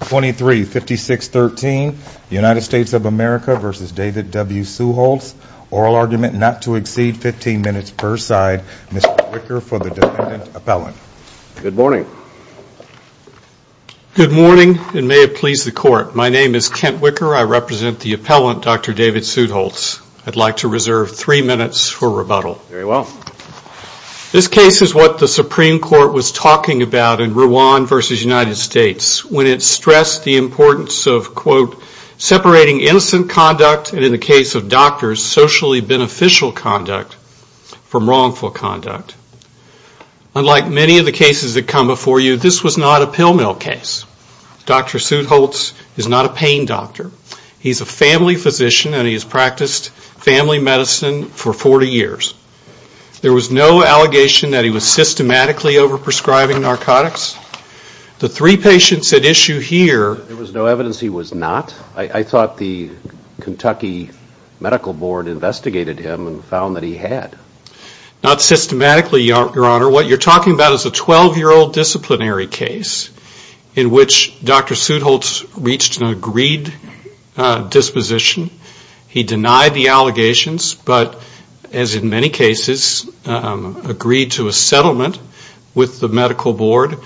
235613 United States of America v. David W. Suetholz, oral argument not to exceed 15 minutes per side. Mr. Wicker for the defendant appellant. Good morning. Good morning and may it please the court. My name is Kent Wicker. I represent the appellant, Dr. David Suetholz. I'd like to reserve 3 minutes for rebuttal. Very well. This case is what the Supreme Court was talking about in Rwan v. United States when it stressed the importance of, quote, separating innocent conduct and, in the case of doctors, socially beneficial conduct from wrongful conduct. Unlike many of the cases that come before you, this was not a pill mill case. Dr. Suetholz is not a pain doctor. He's a family physician and he has practiced family medicine for 40 years. There was no allegation that he was systematically over-prescribing narcotics. The three patients at issue here... There was no evidence he was not. I thought the Kentucky Medical Board investigated him and found that he had. Not systematically, Your Honor. What you're talking about is a 12-year-old disciplinary case in which Dr. Suetholz reached an agreed disposition. He denied the allegations but, as in many cases, agreed to a settlement with the Medical Board.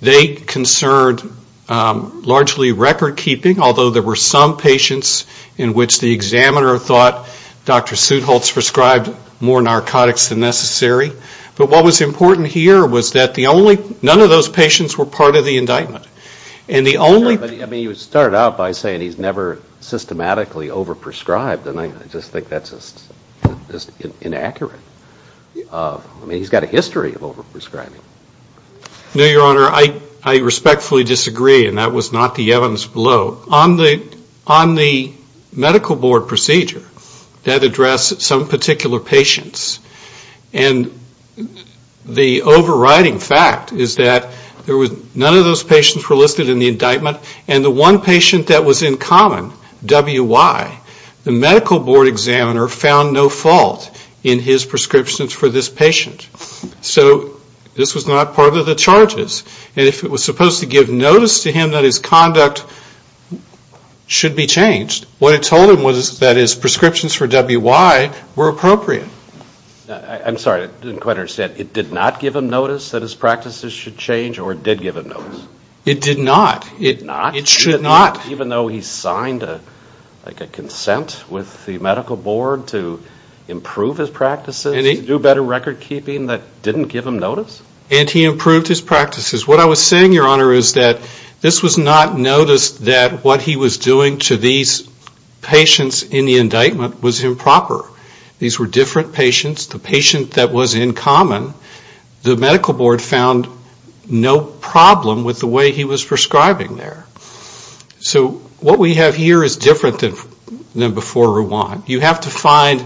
They concerned largely record-keeping, although there were some patients in which the examiner thought Dr. Suetholz prescribed more narcotics than necessary. But what was important here was that none of those patients were part of the indictment. I mean, you start out by saying he's never systematically over-prescribed and I just think that's just inaccurate. I mean, he's got a history of over-prescribing. No, Your Honor. I respectfully disagree and that was not the evidence below. On the Medical Board procedure that addressed some particular patients and the overriding fact is that there was none of those patients were over-prescribed. None were listed in the indictment and the one patient that was in common, W.Y., the Medical Board examiner found no fault in his prescriptions for this patient. So this was not part of the charges. And if it was supposed to give notice to him that his conduct should be changed, what it told him was that his prescriptions for W.Y. were appropriate. I'm sorry, I didn't quite understand. It did not give him notice that his practices should change or it did give him notice? It did not. It should not. Even though he signed a consent with the Medical Board to improve his practices, to do better record-keeping, that didn't give him notice? And he improved his practices. What I was saying, Your Honor, is that this was not noticed that what he was doing to these patients in the indictment was improper. These were different patients. The patient that was in common, the Medical Board found no problem with the way he was prescribing there. So what we have here is different than before Ruan. You have to find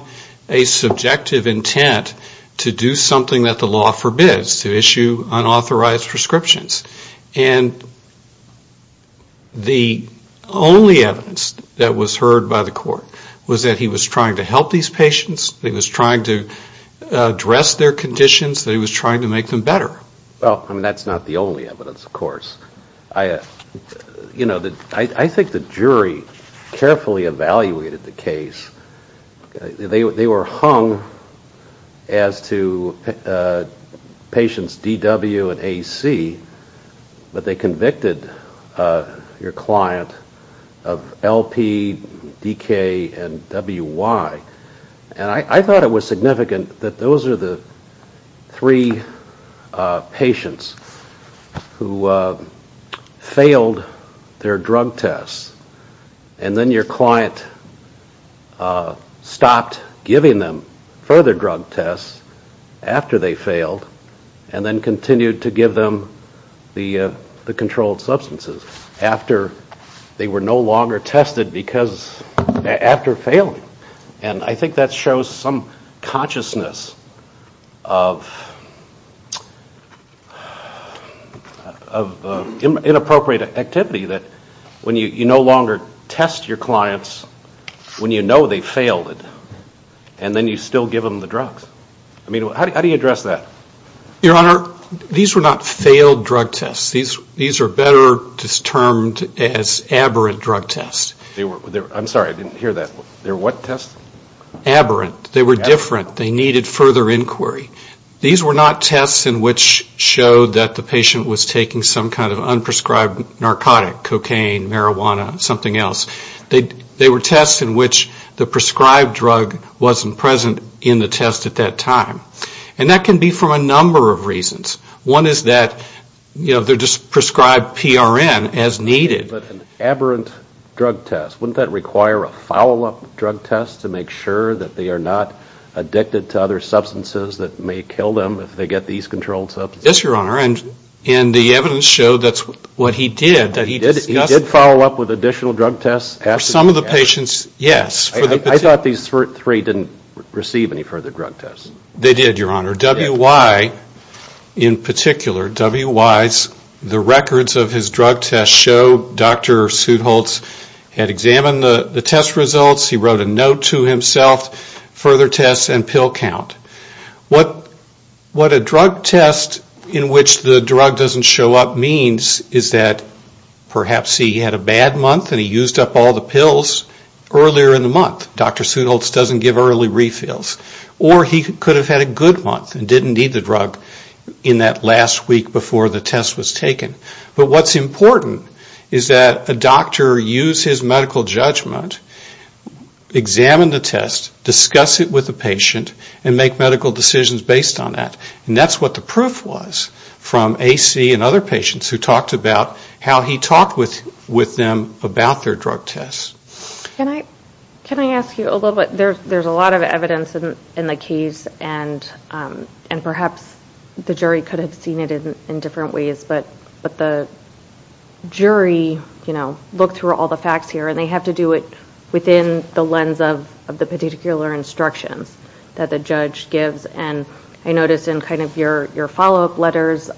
a subjective intent to do something that the law forbids, to issue unauthorized prescriptions. And the only evidence that was heard by the court was that he was trying to help these patients, that he was trying to address their conditions, that he was trying to make them better. Well, that's not the only evidence, of course. I think the jury carefully evaluated the case. They were hung as to patients DW and AC, but they convicted your client of LP, DK, and WY. And I thought it was significant that those are the three patients who failed their drug tests, and then your client stopped giving them further drug tests after they failed, and then continued to give them the controlled substances after they were no longer tested because, after failing. And I think that shows some consciousness of inappropriate activity that when you no longer test your clients when you know they failed it, and then you still give them the drugs. I mean, how do you address that? Your Honor, these were not failed drug tests. These are better termed as aberrant drug tests. I'm sorry, I didn't hear that. They were what tests? Aberrant. They were different. They needed further inquiry. These were not tests in which showed that the patient was taking some kind of unprescribed narcotic, cocaine, marijuana, something else. They were tests in which the prescribed drug wasn't present in the test at that time. And that can be for a number of reasons. One is that they're just prescribed PRN as needed. But an aberrant drug test, wouldn't that require a follow-up drug test to make sure that they are not addicted to other substances that may kill them if they get these controlled substances? Yes, Your Honor. And the evidence showed that's what he did. He did follow up with additional drug tests? For some of the patients, yes. I thought these three didn't receive any further drug tests. They did, Your Honor. W.Y. in particular, W.Y.'s, the records of his drug tests show Dr. Sudholz had examined the test results. He wrote a note to himself, further tests and pill count. What a drug test in which the drug doesn't show up means is that perhaps he had a bad month and he used up all the pills earlier in the month. Dr. Sudholz doesn't give early refills. Or he could have had a good month and didn't need the drug in that last week before the test was taken. But what's important is that a doctor use his medical judgment, examine the test, discuss it with the patient and make medical decisions based on that. And that's what the proof was from A.C. and other patients who talked about how he talked with them about their drug tests. Can I ask you a little bit? There's a lot of evidence in the case and perhaps the jury could have seen it in different ways. But the jury looked through all the facts here and they have to do it within the lens of the particular instructions that the judge gives. And I noticed in kind of your follow-up letters,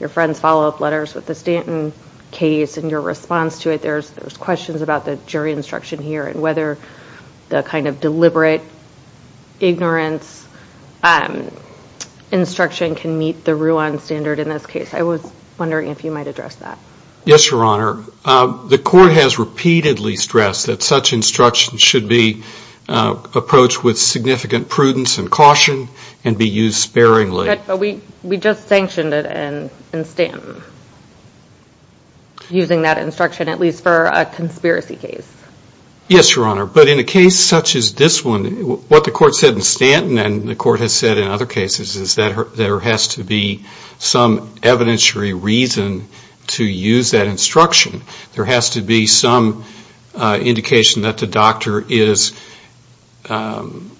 your friend's follow-up letters with the Stanton case and your response to it, there's questions about the jury instruction here. And whether the kind of deliberate ignorance instruction can meet the Ruan standard in this case. I was wondering if you might address that. Yes, Your Honor. The court has repeatedly stressed that such instructions should be approached with significant prudence and caution and be used sparingly. But we just sanctioned it in Stanton. Using that instruction at least for a conspiracy case. Yes, Your Honor. But in a case such as this one, what the court said in Stanton and the court has said in other cases is that there has to be some evidentiary reason to use that instruction. There has to be some indication that the doctor is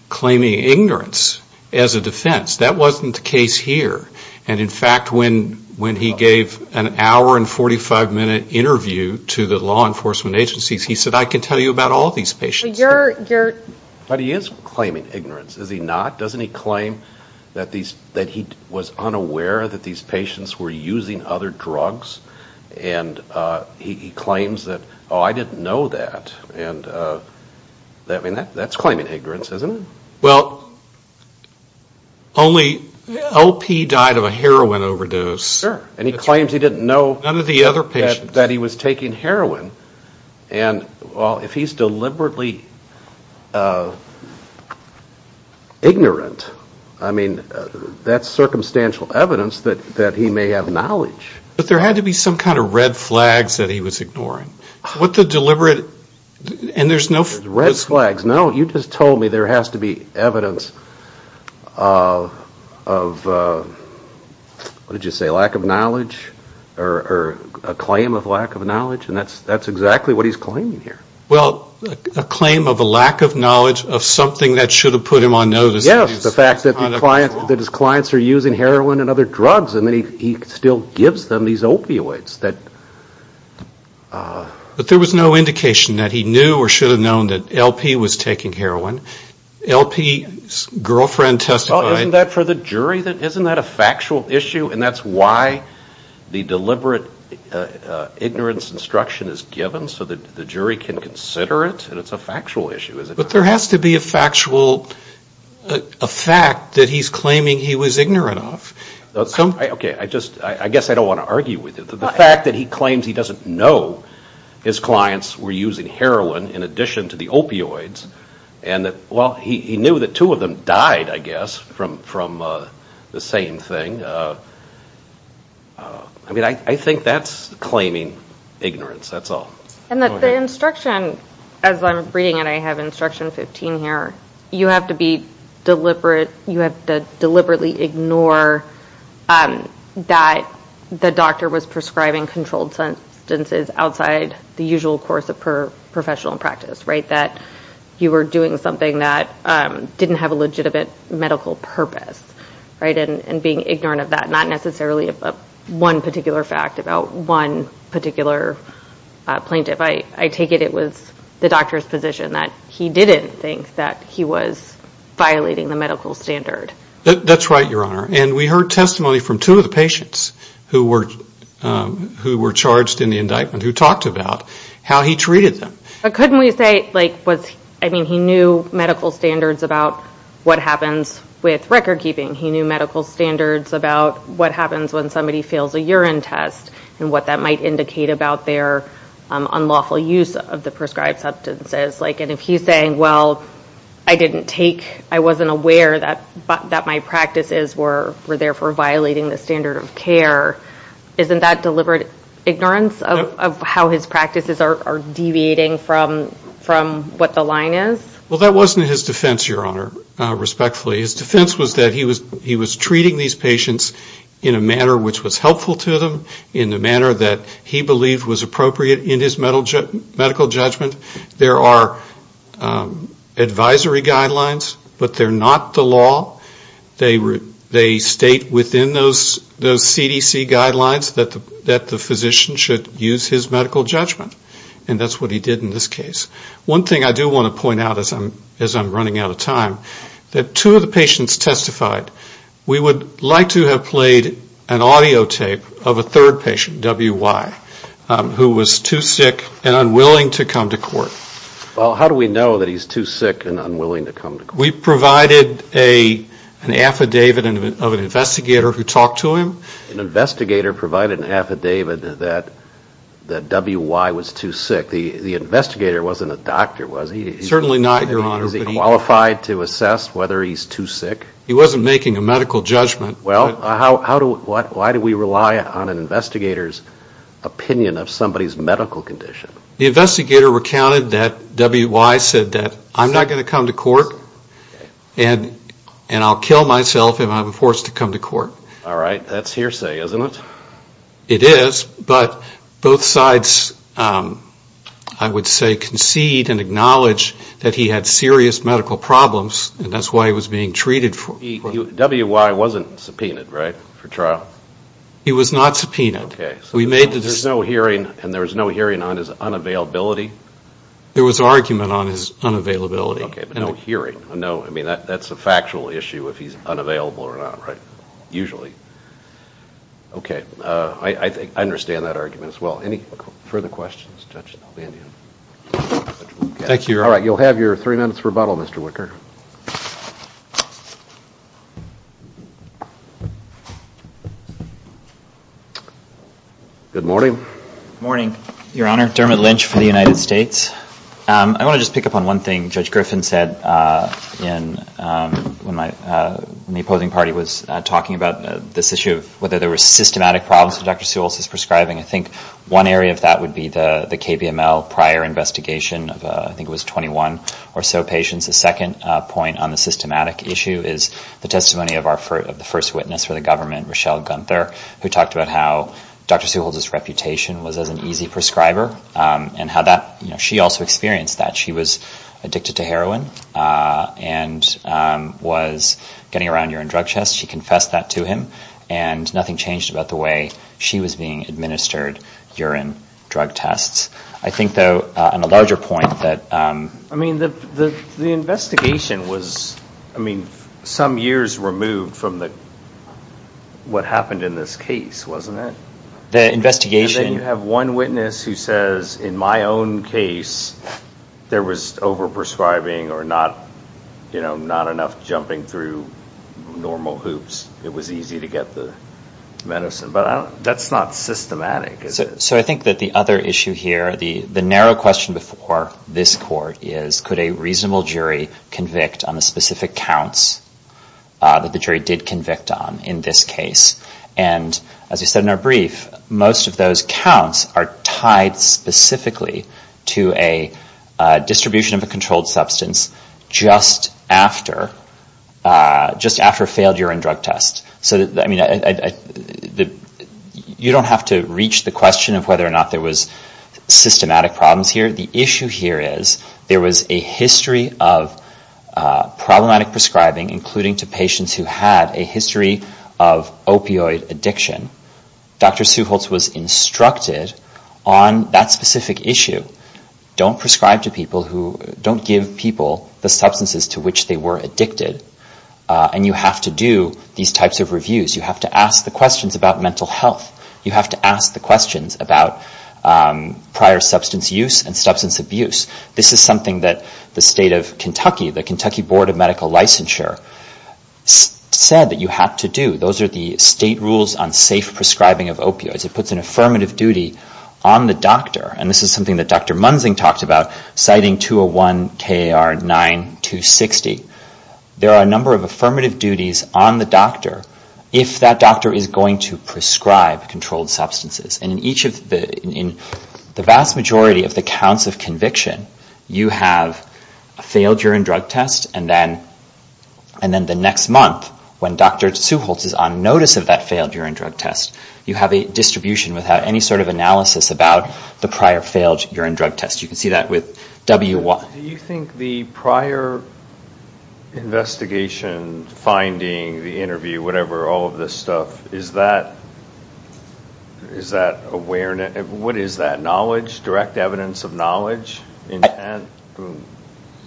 claiming ignorance as a defense. That wasn't the case here. And in fact, when he gave an hour and 45 minute interview to the law enforcement agencies, he said, I can tell you about all these patients. But he is claiming ignorance, is he not? Doesn't he claim that he was unaware that these patients were using other drugs? And he claims that, oh, I didn't know that. And that's claiming ignorance, isn't it? Well, only LP died of a heroin overdose. Sure. And he claims he didn't know that he was taking heroin. And if he's deliberately ignorant, I mean, that's circumstantial evidence that he may have knowledge. But there had to be some kind of red flags that he was ignoring. What the deliberate, and there's no... There's no red flags. No, you just told me there has to be evidence of, what did you say, lack of knowledge or a claim of lack of knowledge. And that's exactly what he's claiming here. Well, a claim of a lack of knowledge of something that should have put him on notice. Yes, the fact that his clients are using heroin and other drugs and he still gives them these opioids. But there was no indication that he knew or should have known that LP was taking heroin. LP's girlfriend testified... Well, isn't that for the jury, isn't that a factual issue? And that's why the deliberate ignorance instruction is given, so that the jury can consider it. And it's a factual issue, isn't it? But there has to be a factual, a fact that he's claiming he was ignorant of. Okay, I just, I guess I don't want to argue with it. The fact that he claims he doesn't know his clients were using heroin in addition to the opioids. And that, well, he knew that two of them died, I guess, from the same thing. I mean, I think that's claiming ignorance, that's all. And the instruction, as I'm reading it, I have instruction 15 here, you have to deliberately ignore that the doctor was prescribing controlled substances outside the usual course of professional practice. That you were doing something that didn't have a legitimate medical purpose. And being ignorant of that, not necessarily one particular fact about one particular plaintiff. I take it it was the doctor's position that he didn't think that he was violating the medical standard. That's right, Your Honor. And we heard testimony from two of the patients who were charged in the indictment who talked about how he treated them. But couldn't we say, I mean, he knew medical standards about what happens with record keeping. He knew medical standards about what happens when somebody fails a urine test and what that might indicate about their unlawful use of the prescribed substances. And if he's saying, well, I didn't take, I wasn't aware that my practices were therefore violating the standard of care, isn't that deliberate ignorance of how his practices are deviating from what the line is? Well, that wasn't his defense, Your Honor, respectfully. His defense was that he was treating these patients in a manner which was helpful to them. In the manner that he believed was appropriate in his medical judgment. There are advisory guidelines, but they're not the law. They state within those CDC guidelines that the physician should use his medical judgment. And that's what he did in this case. One thing I do want to point out as I'm running out of time, that two of the patients testified, we would like to have played an audio tape of a third patient, W.Y., who was too sick and unwilling to come to court. Well, how do we know that he's too sick and unwilling to come to court? We provided an affidavit of an investigator who talked to him. An investigator provided an affidavit that W.Y. was too sick. The investigator wasn't a doctor, was he? Certainly not, Your Honor. Is he qualified to assess whether he's too sick? He wasn't making a medical judgment. Well, why do we rely on an investigator's opinion of somebody's medical condition? The investigator recounted that W.Y. said that, I'm not going to come to court and I'll kill myself if I'm forced to come to court. All right. That's hearsay, isn't it? It is. But both sides, I would say, concede and acknowledge that he had serious medical problems and that's why he was being treated. W.Y. wasn't subpoenaed, right, for trial? He was not subpoenaed. Okay. So there's no hearing and there was no hearing on his unavailability? There was argument on his unavailability. Okay. But no hearing. No. I mean, that's a factual issue if he's unavailable or not, right? Usually. Okay. I think I understand that argument as well. Any further questions, Judge Nalbandian? Thank you, Your Honor. All right. You'll have your three minutes rebuttal, Mr. Wicker. Good morning. Good morning, Your Honor. Dermot Lynch for the United States. I want to just pick up on one thing Judge Griffin said when the opposing party was talking about this issue of whether there were systematic problems with Dr. Sewell's prescribing. I think one area of that would be the KBML prior investigation of I think it was 21 or so patients. The second point on the systematic issue is the testimony of the first witness for the government, Rochelle Gunther, who talked about how Dr. Sewell's reputation was as an easy prescriber and how she also experienced that. She was addicted to heroin and was getting around urine drug tests. She confessed that to him and nothing changed about the way she was being administered urine drug tests. I think, though, on a larger point that... I mean, the investigation was, I mean, some years removed from what happened in this case, wasn't it? The investigation... And then you have one witness who says, in my own case, there was overprescribing or not enough jumping through normal hoops. It was easy to get the medicine. But that's not systematic, is it? So I think that the other issue here, the narrow question before this court is, could a reasonable jury convict on the specific counts that the jury did convict on in this case? And as we said in our brief, most of those counts are tied specifically to a distribution of a controlled substance just after a failed urine drug test. So, I mean, you don't have to reach the question of whether or not there was systematic problems here. The issue here is there was a history of problematic prescribing, including to patients who had a history of opioid addiction. Dr. Suholtz was instructed on that specific issue. Don't prescribe to people who... Don't give people the substances to which they were addicted. And you have to do these types of reviews. You have to ask the questions about mental health. You have to ask the questions about prior substance use and substance abuse. This is something that the state of Kentucky, the Kentucky Board of Medical Licensure, said that you have to do. Those are the state rules on safe prescribing of opioids. It puts an affirmative duty on the doctor. And this is something that Dr. Munzing talked about, citing 201-KAR-9-260. There are a number of affirmative duties on the doctor if that doctor is going to prescribe controlled substances. And in the vast majority of the counts of conviction, you have a failed urine drug test, and then the next month, when Dr. Suholtz is on notice of that failed urine drug test, you have a distribution without any sort of analysis about the prior failed urine drug test. You can see that with W1. Do you think the prior investigation, finding, the interview, whatever, all of this stuff, is that awareness? What is that? Knowledge? Direct evidence of knowledge?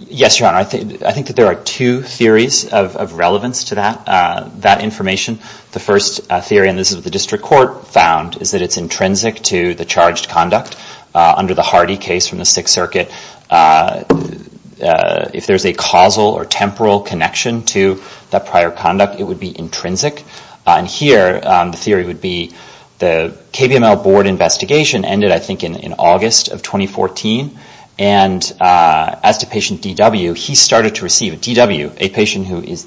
Yes, Your Honor. I think that there are two theories of relevance to that information. The first theory, and this is what the district court found, is that it's intrinsic to the charged conduct. Under the Hardy case from the Sixth Circuit, if there's a causal or temporal connection to that prior conduct, it would be intrinsic. And here, the theory would be the KBML board investigation ended, I think, in August of 2014. And as to patient DW, he started to receive, DW, a patient who is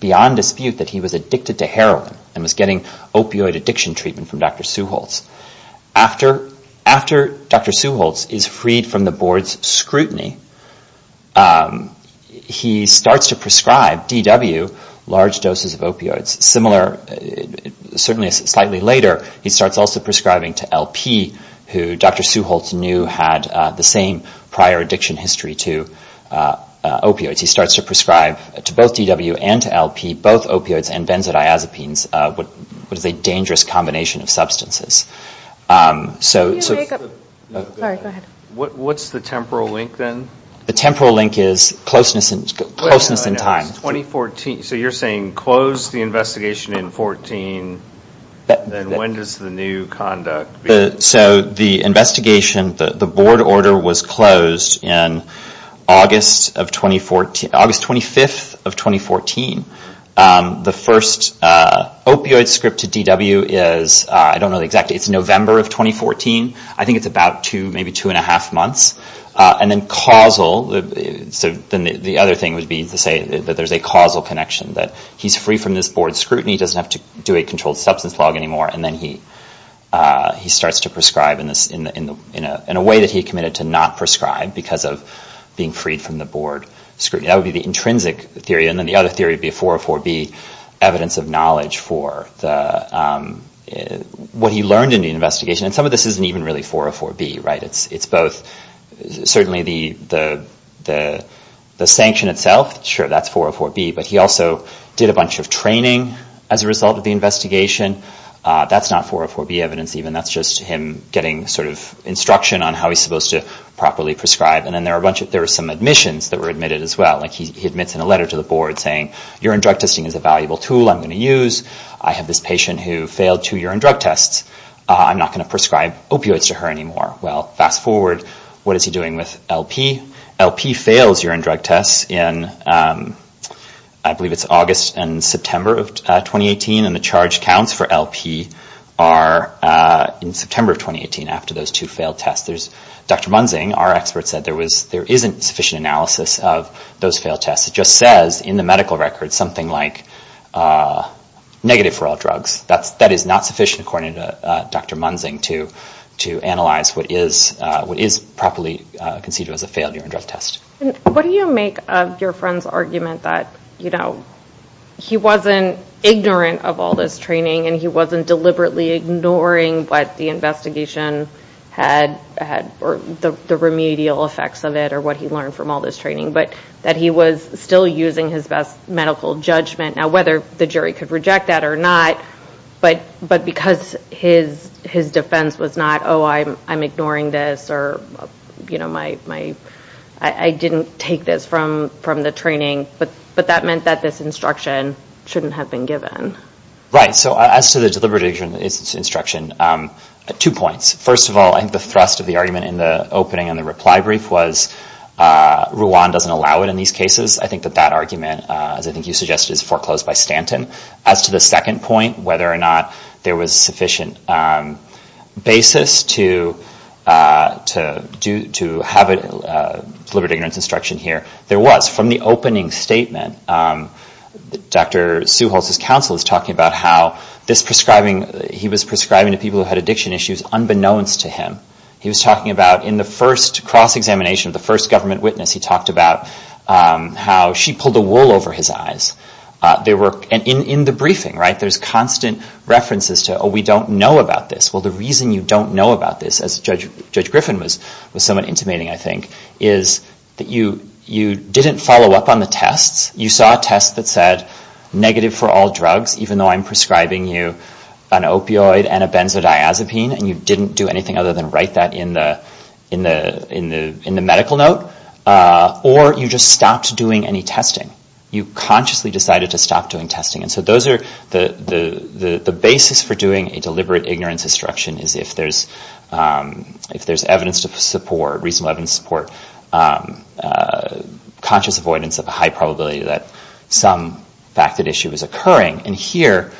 beyond dispute that he was addicted to heroin and was getting opioid addiction treatment from Dr. Suholtz. After Dr. Suholtz is freed from the board's scrutiny, he starts to prescribe, DW, large doses of opioids. Similar, certainly slightly later, he starts also prescribing to LP, who Dr. Suholtz knew had the same prior addiction history to opioids. He starts to prescribe to both DW and to LP, both opioids and benzodiazepines, what is a dangerous combination of substances. So... Sorry, go ahead. What's the temporal link then? The temporal link is closeness in time. So you're saying close the investigation in 14, and when does the new conduct begin? So the investigation, the board order was closed in August of 2014, August 25th of 2014. The first opioid script to DW is, I don't know exactly, November of 2014. I think it's about two, maybe two and a half months. And then causal, so then the other thing would be to say that there's a causal connection, that he's free from this board scrutiny, he doesn't have to do a controlled substance log anymore, and then he starts to prescribe in a way that he committed to not prescribe because of being freed from the board scrutiny. That would be the intrinsic theory, and then the other theory would be a 404B, evidence of knowledge for what he learned in the investigation. And some of this isn't even really 404B, right? It's both, certainly the sanction itself, sure, that's 404B, but he also did a bunch of training as a result of the investigation. That's not 404B evidence even, that's just him getting sort of instruction on how he's supposed to properly prescribe. And then there were some admissions that were admitted as well. Like he admits in a letter to the board saying, urine drug testing is a valuable tool I'm going to use, I have this patient who failed two urine drug tests, I'm not going to prescribe opioids to her anymore. Well, fast forward, what is he doing with LP? LP fails urine drug tests in, I believe it's August and September of 2018, and the charge counts for LP are in September of 2018, after those two failed tests. Dr. Munzing, our expert, said there isn't sufficient analysis of those failed tests. It just says in the medical record something like, negative for all drugs. That is not sufficient according to Dr. Munzing to analyze what is properly considered as a failed urine drug test. What do you make of your friend's argument that, you know, he wasn't ignorant of all this training and he wasn't deliberately ignoring what the investigation had, or the remedial effects of it, or what he learned from all this training, but that he was still using his best medical judgment. Now, whether the jury could reject that or not, but because his defense was not, oh, I'm ignoring this or, you know, I didn't take this from the training, but that meant that this instruction shouldn't have been given. Right, so as to the deliberative instruction, two points. First of all, I think the thrust of the argument in the opening and the reply brief was, Rouhan doesn't allow it in these cases. I think that that argument, as I think you suggested, is foreclosed by Stanton. As to the second point, whether or not there was sufficient basis to have deliberate ignorance instruction here, there was. From the opening statement, Dr. Suholtz's counsel is talking about how this prescribing, he was prescribing to people who had addiction issues unbeknownst to him. He was talking about in the first cross-examination with the first government witness, he talked about how she pulled a wool over his eyes. In the briefing, right, there's constant references to, oh, we don't know about this. Well, the reason you don't know about this, as Judge Griffin was somewhat intimating, I think, is that you didn't follow up on the tests. You saw a test that said negative for all drugs, even though I'm prescribing you an opioid and a benzodiazepine, and you didn't do anything other than write that in the medical note, or you just stopped doing any testing. You consciously decided to stop doing testing. And so those are the basis for doing a deliberate ignorance instruction is if there's evidence to support, reasonable evidence to support, conscious avoidance of a high probability that some fact that issue is occurring. And here,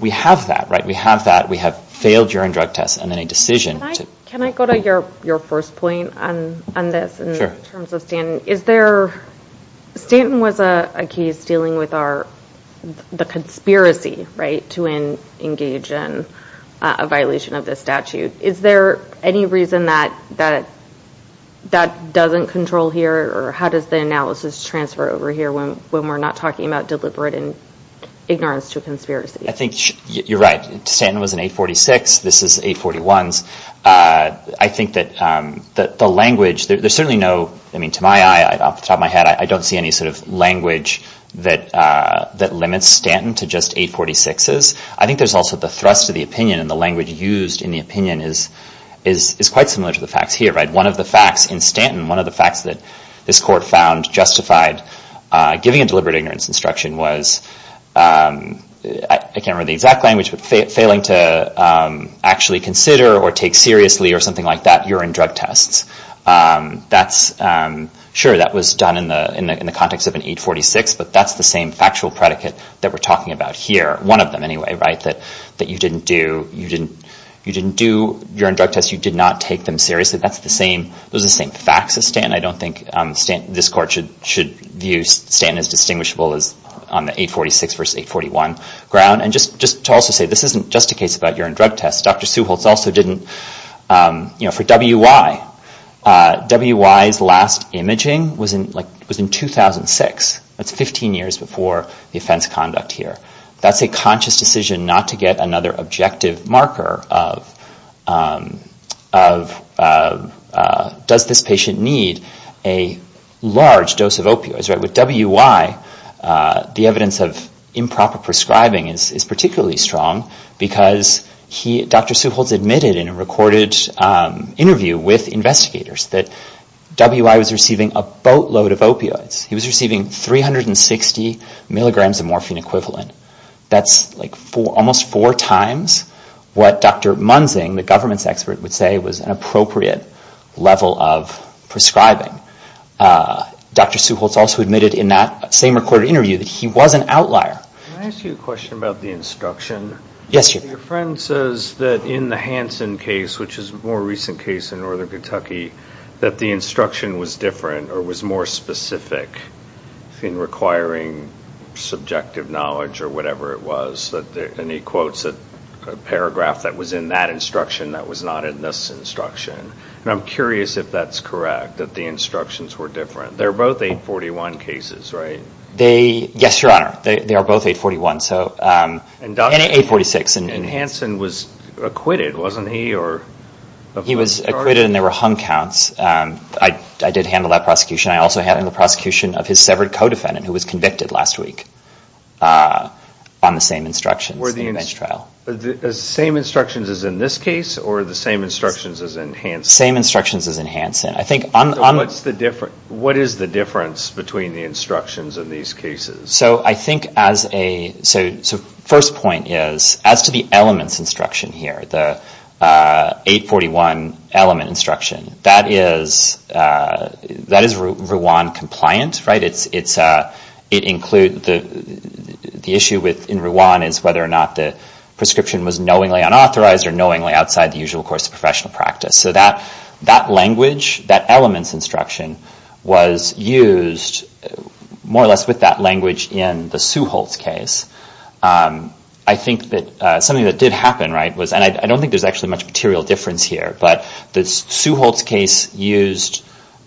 we have that, right? We have that, we have failed urine drug tests, and then a decision to... Can I go to your first point on this in terms of Stanton? Stanton was a case dealing with the conspiracy, right, to engage in a violation of this statute. Is there any reason that that doesn't control here, or how does the analysis transfer over here when we're not talking about deliberate ignorance to conspiracy? I think you're right. Stanton was an 846, this is 841s. I think that the language, there's certainly no... I mean, to my eye, off the top of my head, I don't see any sort of language that limits Stanton to just 846s. I think there's also the thrust of the opinion and the language used in the opinion is quite similar to the facts here, right? One of the facts in Stanton, one of the facts that this court found justified giving a deliberate ignorance instruction was... I can't remember the exact language, but failing to actually consider or take seriously or something like that urine drug tests. That's... Sure, that was done in the context of an 846, but that's the same factual predicate that we're talking about here, one of them anyway, right? That you didn't do urine drug tests, you did not take them seriously. Those are the same facts as Stanton. I don't think this court should view Stanton as distinguishable as on the 846 versus 841 ground. And just to also say, this isn't just a case about urine drug tests. Dr. Suholtz also didn't... For W.Y., W.Y.'s last imaging was in 2006. That's 15 years before the offense conduct here. That's a conscious decision not to get another objective marker of does this patient need a large dose of opioids, right? For W.Y., the evidence of improper prescribing is particularly strong because Dr. Suholtz admitted in a recorded interview with investigators that W.Y. was receiving a boatload of opioids. He was receiving 360 milligrams of morphine equivalent. That's almost four times what Dr. Munzing, the government's expert, would say was an appropriate level of prescribing. Dr. Suholtz also admitted in that same recorded interview that he was an outlier. Can I ask you a question about the instruction? Yes, you can. Your friend says that in the Hansen case, which is a more recent case in northern Kentucky, that the instruction was different or was more specific in requiring subjective knowledge or whatever it was. And he quotes a paragraph that was in that instruction that was not in this instruction. And I'm curious if that's correct, that the instructions were different. They're both 841 cases, right? Yes, Your Honor. They are both 841 and 846. And Hansen was acquitted, wasn't he? He was acquitted and there were hung counts. I did handle that prosecution. I also handled the prosecution of his severed co-defendant who was convicted last week on the same instructions in the bench trial. The same instructions as in this case or the same instructions as in Hansen? The same instructions as in Hansen. What is the difference between the instructions in these cases? First point is, as to the elements instruction here, the 841 element instruction, that is Rwan compliant, right? The issue in Rwan is whether or not the prescription was knowingly unauthorized or knowingly outside the usual course of professional practice. That language, that elements instruction, was used more or less with that language in the Suholtz case. I think that something that did happen, right, and I don't think there's actually much material difference here, but the Suholtz case used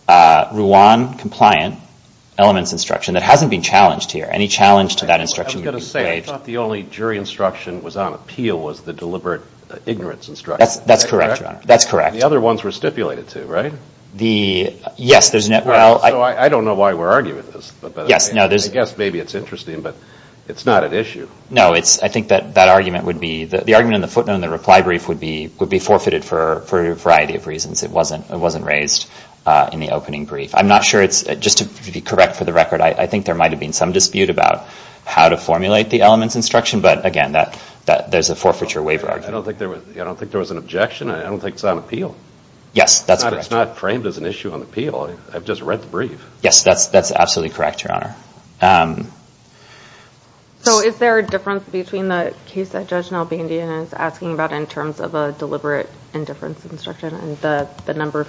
Rwan compliant elements instruction. That hasn't been challenged here. Any challenge to that instruction? I was going to say, I thought the only jury instruction was on appeal was the deliberate ignorance instruction. That's correct. The other ones were stipulated too, right? Yes. I don't know why we're arguing this. I guess maybe it's interesting, but it's not at issue. No, I think that argument would be, the argument in the footnote in the reply brief would be forfeited for a variety of reasons. It wasn't raised in the opening brief. I'm not sure, just to be correct for the record, I think there might have been some dispute about how to formulate the elements instruction, but again, there's a forfeiture waiver argument. I don't think it's an objection. I don't think it's on appeal. Yes, that's correct. It's not framed as an issue on appeal. I've just read the brief. Yes, that's absolutely correct, Your Honor. So is there a difference between the case that Judge Nalbandian is asking about in terms of a deliberate indifference instruction and the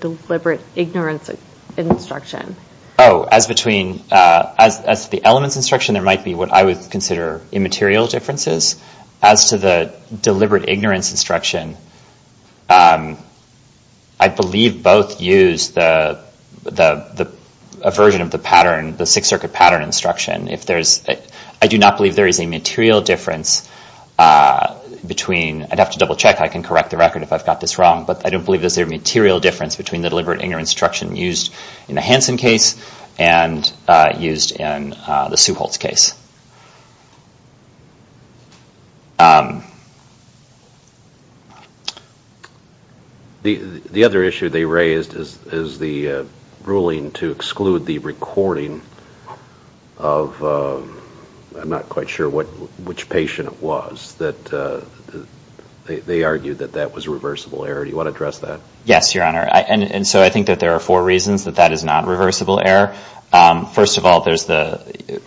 deliberate ignorance instruction? Oh, as to the elements instruction, there might be what I would consider immaterial differences. As to the deliberate ignorance instruction, I believe both use a version of the pattern, the Sixth Circuit pattern instruction. I do not believe there is a material difference between, I'd have to double check. I can correct the record if I've got this wrong, but I don't believe there's a material difference between the deliberate ignorance instruction used in the Hansen case and used in the Suholtz case. The other issue they raised is the ruling to exclude the recording of, I'm not quite sure which patient it was, that they argued that that was a reversible error. Do you want to address that? Yes, Your Honor. And so I think that there are four reasons that that is not a reversible error. First of all, there's the,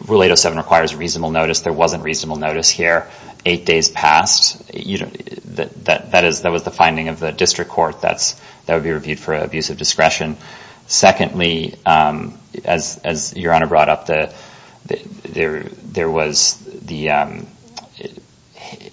Rule 807 requires that the patient requires reasonable notice. There wasn't reasonable notice here. Eight days passed. That was the finding of the district court. That would be reviewed for abusive discretion. Secondly, as Your Honor brought up, there was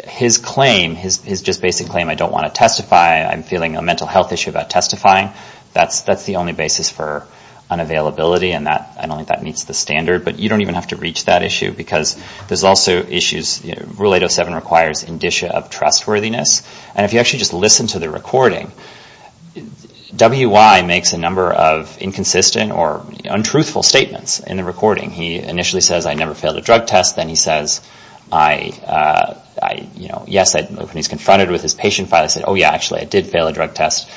his claim, his just basic claim, I don't want to testify, I'm feeling a mental health issue about testifying. That's the only basis for unavailability, and I don't think that meets the standard, because there's also issues, Rule 807 requires indicia of trustworthiness. And if you actually just listen to the recording, W.Y. makes a number of inconsistent or untruthful statements in the recording. He initially says, I never failed a drug test. Then he says, yes, when he's confronted with his patient file, he said, oh yeah, actually, I did fail a drug test.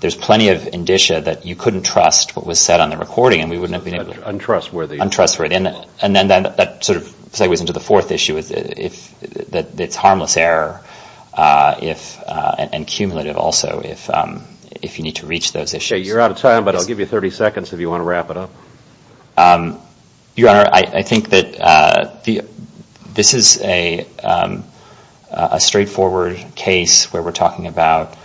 There's plenty of indicia that you couldn't trust what was said on the recording, and we wouldn't have been able to. And then that sort of segues into the fourth issue, that it's harmless error, and cumulative also, if you need to reach those issues. You're out of time, but I'll give you 30 seconds if you want to wrap it up. Your Honor, I think that this is a straightforward case where we're talking about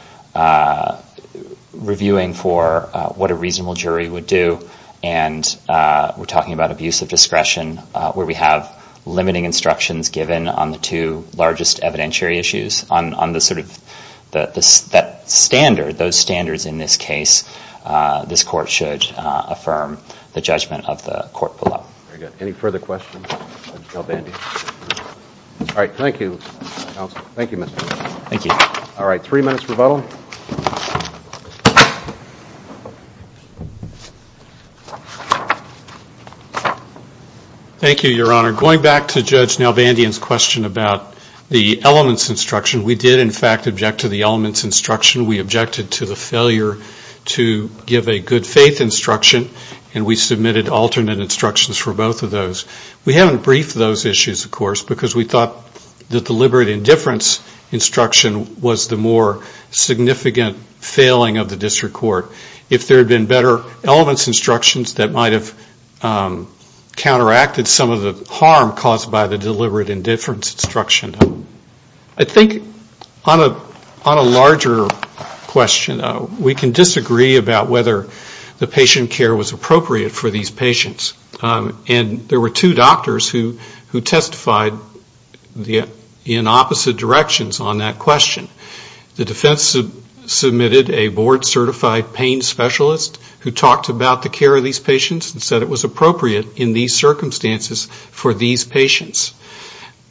reviewing for what a reasonable jury would do, and we're talking about abuse of discretion, where we have limiting instructions given on the two largest evidentiary issues. On the sort of standard, those standards in this case, this court should affirm the judgment of the court below. Very good. Any further questions? Judge Galbandi. All right, thank you, counsel. Thank you, Mr. Winsor. Thank you. All right, three minutes rebuttal. Thank you, Your Honor. Going back to Judge Galbandian's question about the elements instruction, we did in fact object to the elements instruction. We objected to the failure to give a good faith instruction, and we submitted alternate instructions for both of those. We haven't briefed those issues, of course, because we thought the deliberate indifference instruction was the more significant failing of the district court. If there had been better elements instructions that might have counteracted some of the harm caused by the deliberate indifference instruction. I think on a larger question, we can disagree about whether the patient care was appropriate for these patients, and there were two doctors who testified in opposite directions on that question. The defense submitted a board-certified pain specialist who talked about the care of these patients and said it was appropriate in these circumstances for these patients.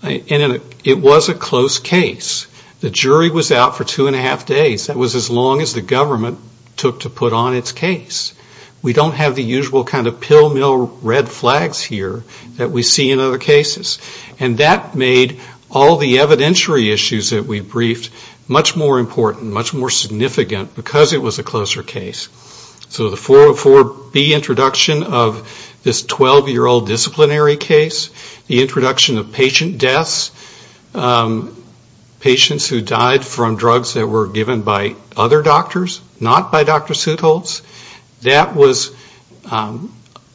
And it was a close case. The jury was out for two and a half days. That was as long as the government took to put on its case. We don't have the usual kind of pill mill red flags here that we see in other cases. And that made all the evidentiary issues that we briefed much more important, much more significant because it was a closer case. So the 404B introduction of this 12-year-old disciplinary case, the introduction of patient deaths, patients who died from drugs that were given by other doctors, not by Dr. Seutholz, that was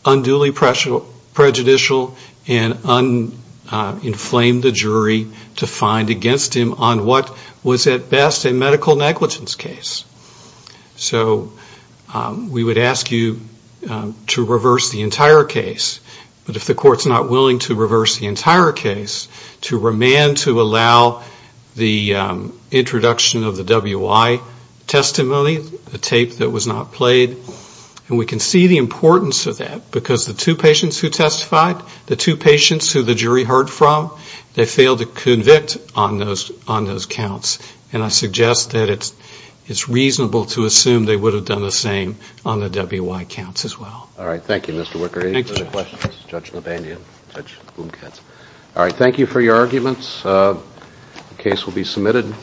unduly prejudicial and inflamed the jury to find against him on what was at best a medical negligence case. So we would ask you to reverse the entire case. But if the court's not willing to reverse the entire case, to remand to allow the introduction of the WI testimony, the tape that was not played. And we can see the importance of that because the two patients who testified, the two patients who the jury heard from, they failed to convict on those counts. And I suggest that it's really important and reasonable to assume they would have done the same on the WI counts as well. All right. Thank you, Mr. Wicker. Any further questions? All right. Thank you for your arguments. The case will be submitted.